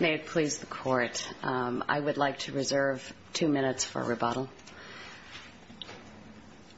May it please the Court, I would like to reserve two minutes for rebuttal.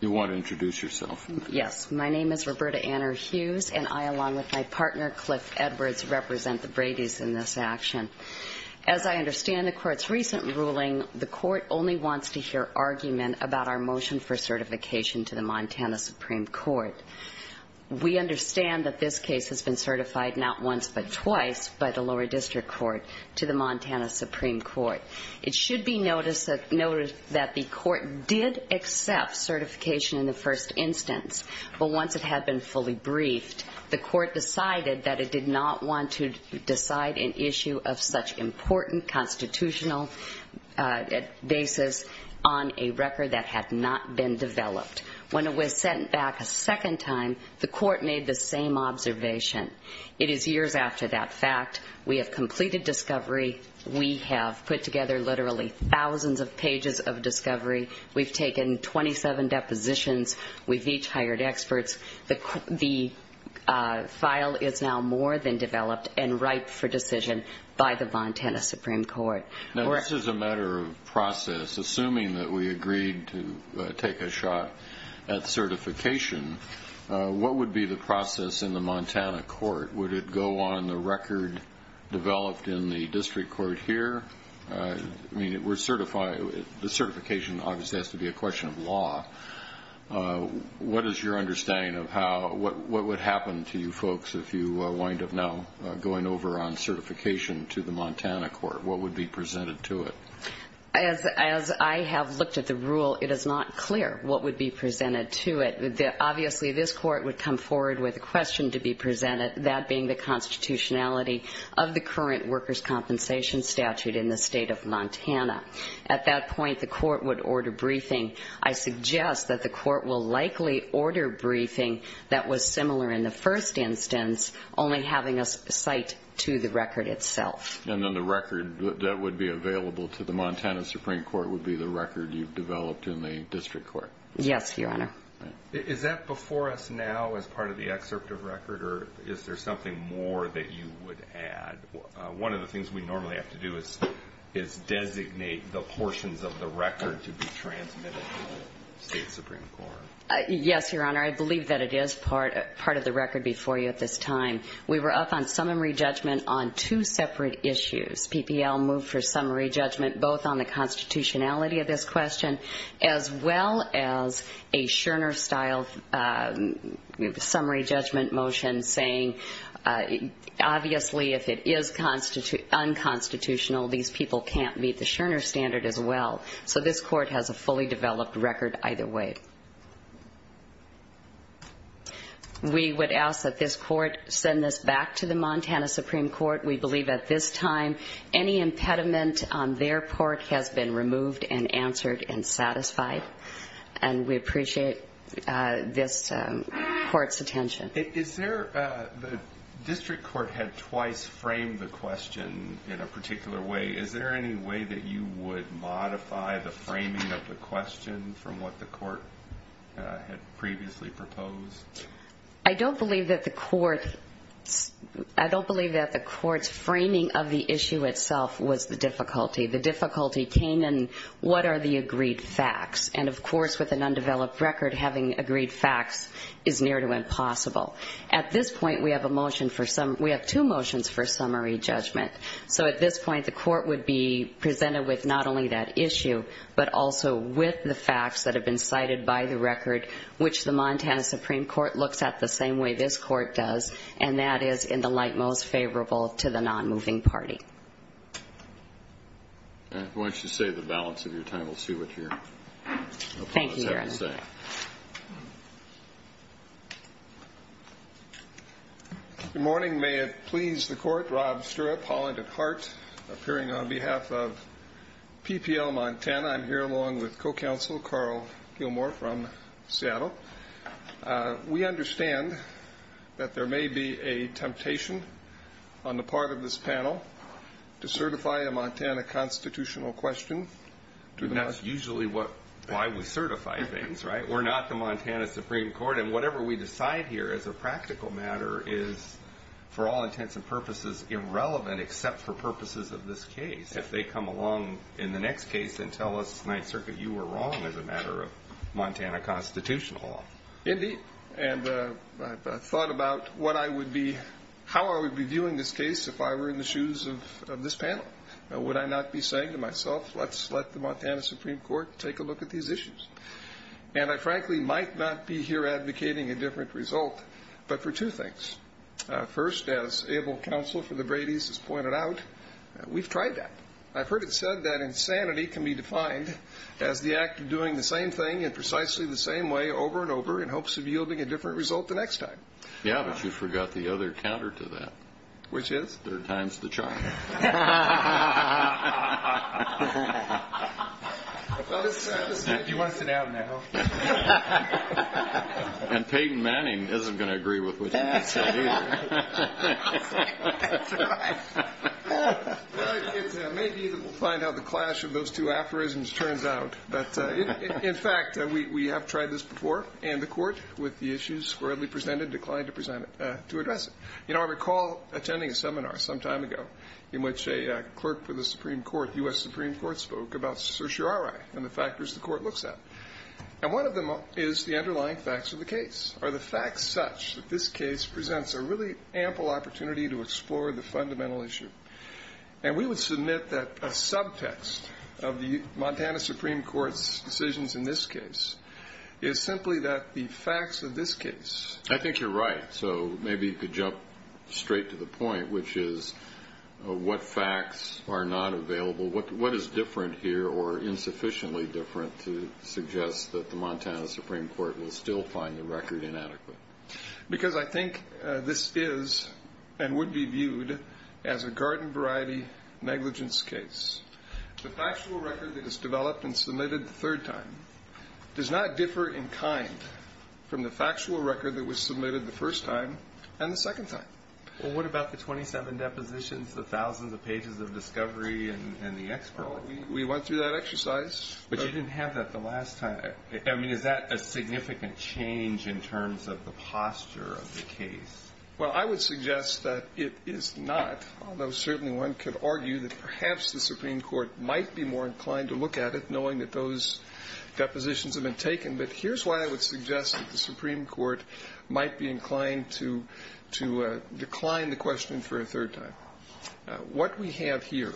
You want to introduce yourself? Yes. My name is Roberta Anner Hughes, and I, along with my partner Cliff Edwards, represent the Bradys in this action. As I understand the Court's recent ruling, the Court only wants to hear argument about our motion for certification to the Montana Supreme Court. We understand that this case has been certified not once but twice by the lower district court to the Montana Supreme Court. It should be noted that the Court did accept certification in the first instance, but once it had been fully briefed, the Court decided that it did not want to decide an issue of such important constitutional basis on a record that had not been developed. When it was sent back a second time, the Court made the same observation. It is years after that fact. We have completed discovery. We have put together literally thousands of pages of discovery. We've taken 27 depositions. We've each hired experts. The file is now more than developed and ripe for decision by the Montana Supreme Court. This is a matter of process. Assuming that we agreed to take a shot at certification, what would be the process in the Montana Court? Would it go on the record developed in the district court here? The certification obviously has to be a question of law. What is your understanding of what would happen to you folks if you wind up now going over on certification to the Montana Court? What would be presented to it? As I have looked at the rule, it is not clear what would be presented to it. Obviously, this Court would come forward with a question to be presented, that being the constitutionality of the current workers' compensation statute in the state of Montana. At that point, the Court would order briefing. I suggest that the Court will likely order briefing that was similar in the first instance, only having a cite to the record itself. And then the record that would be available to the Montana Supreme Court would be the record you've developed in the district court? Yes, Your Honor. Is that before us now as part of the excerpt of record, or is there something more that you would add? One of the things we normally have to do is designate the portions of the record to be transmitted to the state Supreme Court. Yes, Your Honor. I believe that it is part of the record before you at this time. We were up on summary judgment on two separate issues. PPL moved for summary judgment both on the constitutionality of this question, as well as a Scherner-style summary judgment motion saying, obviously, if it is unconstitutional, these people can't meet the Scherner standard as well. So this Court has a fully developed record either way. We would ask that this Court send this back to the Montana Supreme Court. We believe at this time any impediment on their part has been removed and answered and satisfied, and we appreciate this Court's attention. The district court had twice framed the question in a particular way. Is there any way that you would modify the framing of the question from what the Court had previously proposed? I don't believe that the Court's framing of the issue itself was the difficulty. The difficulty came in what are the agreed facts, and of course with an undeveloped record, having agreed facts is near to impossible. At this point, we have two motions for summary judgment. So at this point, the Court would be presented with not only that issue, but also with the facts that have been cited by the record, which the Montana Supreme Court looks at the same way this Court does, and that is in the light most favorable to the non-moving party. Why don't you say the balance of your time. Thank you, Your Honor. Good morning. May it please the Court, Rob Stirrup, Holland at Heart, appearing on behalf of PPL Montana. I'm here along with co-counsel Carl Gilmore from Seattle. We understand that there may be a temptation on the part of this panel to certify a Montana constitutional question. And that's usually why we certify things, right? We're not the Montana Supreme Court, and whatever we decide here as a practical matter is, for all intents and purposes, irrelevant except for purposes of this case. If they come along in the next case and tell us, Ninth Circuit, you were wrong as a matter of Montana constitutional law. Indeed. And I thought about how I would be viewing this case if I were in the shoes of this panel. Would I not be saying to myself, let's let the Montana Supreme Court take a look at these issues? And I frankly might not be here advocating a different result, but for two things. First, as able counsel for the Brady's has pointed out, we've tried that. I've heard it said that insanity can be defined as the act of doing the same thing in precisely the same way over and over in hopes of yielding a different result the next time. Yeah, but you forgot the other counter to that. Which is? Third time's the charm. You want to sit down now? And Peyton Manning isn't going to agree with what you just said either. Well, it may be that we'll find out the clash of those two aphorisms turns out. But, in fact, we have tried this before, and the court with the issues broadly presented declined to present it, to address it. You know, I recall attending a seminar some time ago in which a clerk for the Supreme Court, U.S. Supreme Court, spoke about certiorari and the factors the court looks at. And one of them is the underlying facts of the case. Are the facts such that this case presents a really ample opportunity to explore the fundamental issue? And we would submit that a subtext of the Montana Supreme Court's decisions in this case is simply that the facts of this case. I think you're right. So maybe you could jump straight to the point, which is what facts are not available? What is different here or insufficiently different to suggest that the Montana Supreme Court will still find the record inadequate? Because I think this is and would be viewed as a garden variety negligence case. The factual record that is developed and submitted the third time does not differ in kind from the factual record that was submitted the first time and the second time. Well, what about the 27 depositions, the thousands of pages of discovery and the expert? We went through that exercise. But you didn't have that the last time. I mean, is that a significant change in terms of the posture of the case? Well, I would suggest that it is not, although certainly one could argue that perhaps the Supreme Court might be more inclined to look at it, knowing that those depositions have been taken. But here's why I would suggest that the Supreme Court might be inclined to decline the question for a third time. What we have here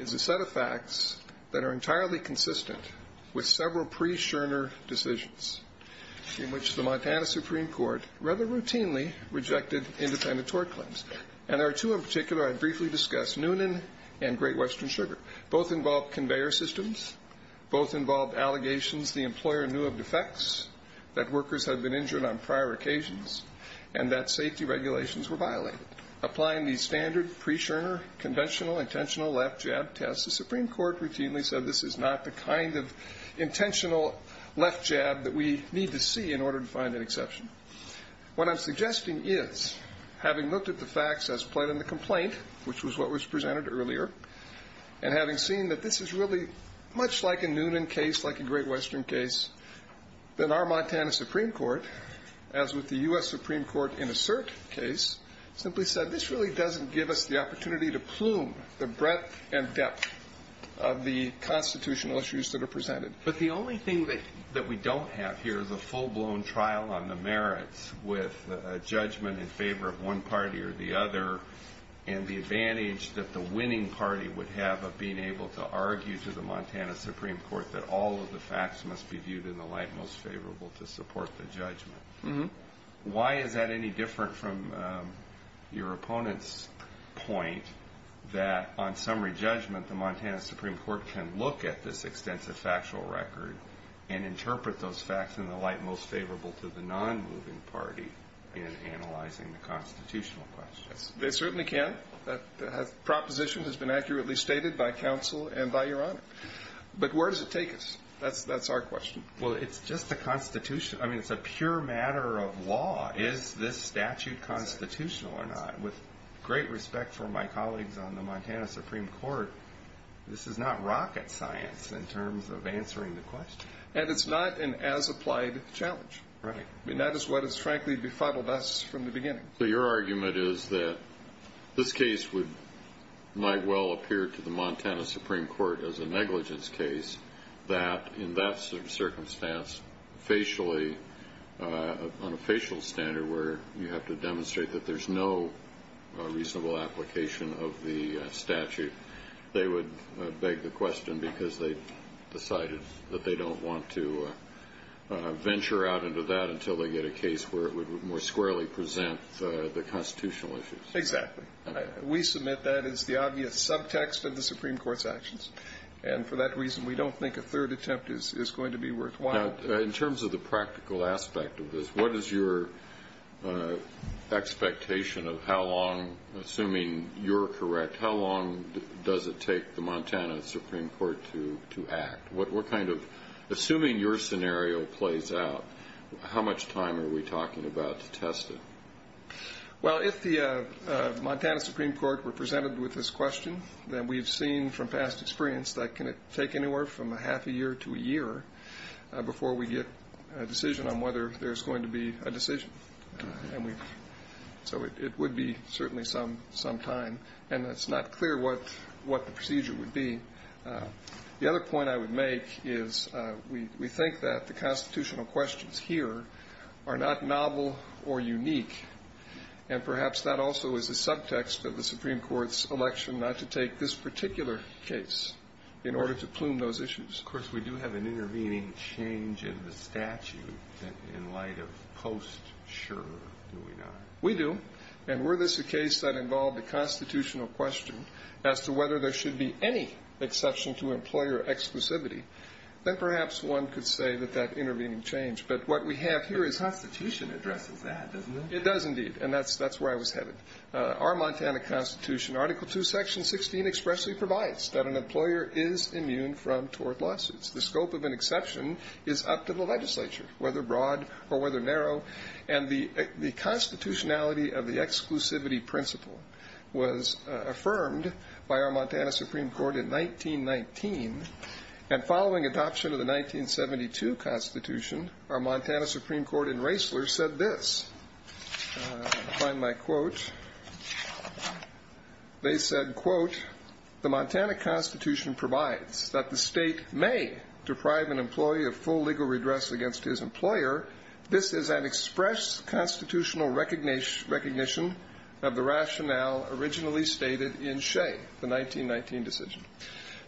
is a set of facts that are entirely consistent with several pre-Schirner decisions in which the Montana Supreme Court rather routinely rejected independent tort claims. And there are two in particular I briefly discussed, Noonan and Great Western Sugar. Both involved conveyor systems. Both involved allegations. The employer knew of defects, that workers had been injured on prior occasions, and that safety regulations were violated. Applying the standard pre-Schirner conventional intentional left jab test, the Supreme Court routinely said this is not the kind of intentional left jab that we need to see in order to find an exception. What I'm suggesting is, having looked at the facts as played in the complaint, which was what was presented earlier, and having seen that this is really much like a Noonan case, like a Great Western case, that our Montana Supreme Court, as with the U.S. Supreme Court in a cert case, simply said this really doesn't give us the opportunity to plume the breadth and depth of the constitutional issues that are presented. But the only thing that we don't have here is a full-blown trial on the merits with a judgment in favor of one party or the other, and the advantage that the winning party would have of being able to argue to the Montana Supreme Court that all of the facts must be viewed in the light most favorable to support the judgment. Why is that any different from your opponent's point that on summary judgment, the Montana Supreme Court can look at this extensive factual record and interpret those facts in the light most favorable to the non-moving party in analyzing the constitutional questions? They certainly can. That proposition has been accurately stated by counsel and by Your Honor. But where does it take us? That's our question. Well, it's just a constitution. I mean, it's a pure matter of law. Is this statute constitutional or not? With great respect for my colleagues on the Montana Supreme Court, this is not rocket science in terms of answering the question. And it's not an as-applied challenge. Right. And that is what has, frankly, befuddled us from the beginning. So your argument is that this case might well appear to the Montana Supreme Court as a negligence case, that in that circumstance, facially, on a facial standard, where you have to demonstrate that there's no reasonable application of the statute, they would beg the question because they've decided that they don't want to venture out into that until they get a case where it would more squarely present the constitutional issues. Exactly. We submit that as the obvious subtext of the Supreme Court's actions. And for that reason, we don't think a third attempt is going to be worthwhile. Now, in terms of the practical aspect of this, what is your expectation of how long, assuming you're correct, how long does it take the Montana Supreme Court to act? What kind of, assuming your scenario plays out, how much time are we talking about to test it? Well, if the Montana Supreme Court were presented with this question, then we've seen from past experience that can it take anywhere from a half a year to a year before we get a decision on whether there's going to be a decision. So it would be certainly some time. And it's not clear what the procedure would be. The other point I would make is we think that the constitutional questions here are not novel or unique, and perhaps that also is a subtext of the Supreme Court's election not to take this particular case in order to plume those issues. Of course, we do have an intervening change in the statute in light of post-sure, do we not? We do. And were this a case that involved a constitutional question as to whether there should be any exception to employer exclusivity, then perhaps one could say that that intervening change. But what we have here is the Constitution addresses that, doesn't it? It does indeed, and that's where I was headed. Our Montana Constitution, Article II, Section 16 expressly provides that an employer is immune from tort lawsuits. The scope of an exception is up to the legislature, whether broad or whether narrow. And the constitutionality of the exclusivity principle was affirmed by our Montana Supreme Court in 1919. And following adoption of the 1972 Constitution, our Montana Supreme Court in Raessler said this. I'll find my quote. They said, quote, The Montana Constitution provides that the state may deprive an employee of full legal redress against his employer. This is an express constitutional recognition of the rationale originally stated in Shea, the 1919 decision.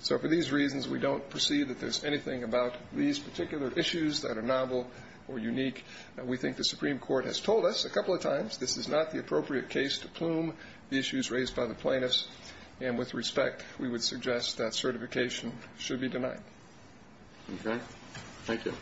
So for these reasons, we don't perceive that there's anything about these particular issues that are novel or unique. We think the Supreme Court has told us a couple of times this is not the appropriate case to plume the issues raised by the plaintiffs. And with respect, we would suggest that certification should be denied. Okay. Thank you.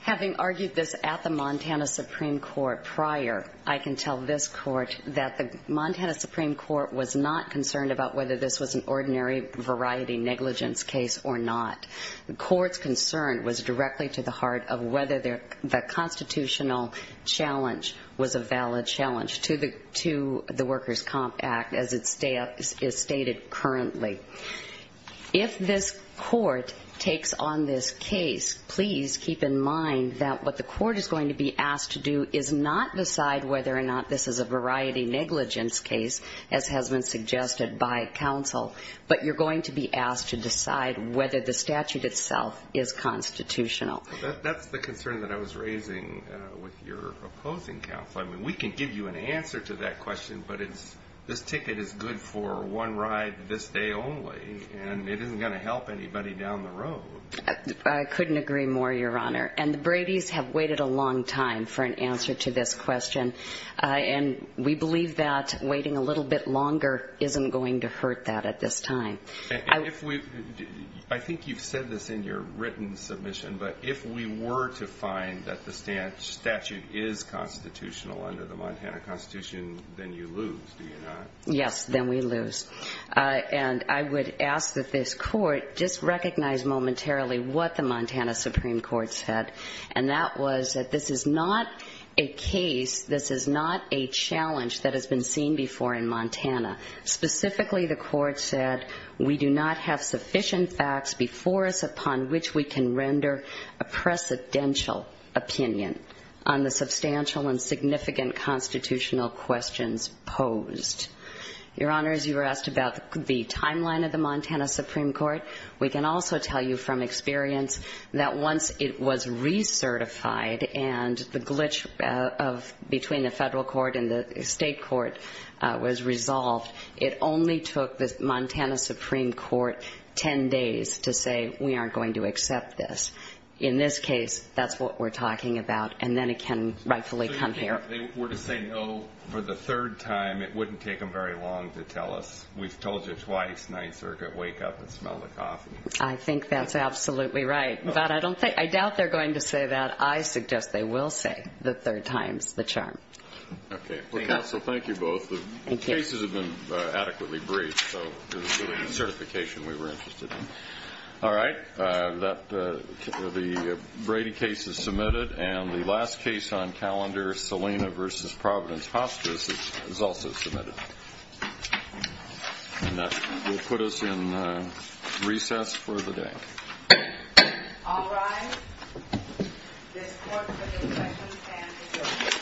Having argued this at the Montana Supreme Court prior, I can tell this court that the Montana Supreme Court was not concerned about whether this was an ordinary variety negligence case or not. The court's concern was directly to the heart of whether the constitutional challenge was a valid challenge to the Workers' Comp Act as it is stated currently. If this court takes on this case, please keep in mind that what the court is going to be asked to do is not decide whether or not this is a variety negligence case, as has been suggested by counsel, but you're going to be asked to decide whether the statute itself is constitutional. That's the concern that I was raising with your opposing counsel. I mean, we can give you an answer to that question, but this ticket is good for one ride this day only, and it isn't going to help anybody down the road. I couldn't agree more, Your Honor. And the Bradys have waited a long time for an answer to this question. And we believe that waiting a little bit longer isn't going to hurt that at this time. I think you've said this in your written submission, but if we were to find that the statute is constitutional under the Montana Constitution, then you lose, do you not? Yes, then we lose. And I would ask that this court just recognize momentarily what the Montana Supreme Court said, and that was that this is not a case, this is not a challenge that has been seen before in Montana. Specifically, the court said, we do not have sufficient facts before us upon which we can render a precedential opinion on the substantial and significant constitutional questions posed. Your Honor, as you were asked about the timeline of the Montana Supreme Court, we can also tell you from experience that once it was recertified and the glitch between the federal court and the state court was resolved, it only took the Montana Supreme Court 10 days to say, we aren't going to accept this. In this case, that's what we're talking about, and then it can rightfully come here. Your Honor, if they were to say no for the third time, it wouldn't take them very long to tell us, we've told you twice, night circuit, wake up and smell the coffee. I think that's absolutely right. But I doubt they're going to say that. I suggest they will say the third time's the charm. Okay. So thank you both. The cases have been adequately briefed, so there's really no certification we were interested in. All right. The Brady case is submitted, and the last case on calendar, Salina v. Providence Hospice, is also submitted. And that will put us in recess for the day. All rise. This court will recess and adjourn. Thank you.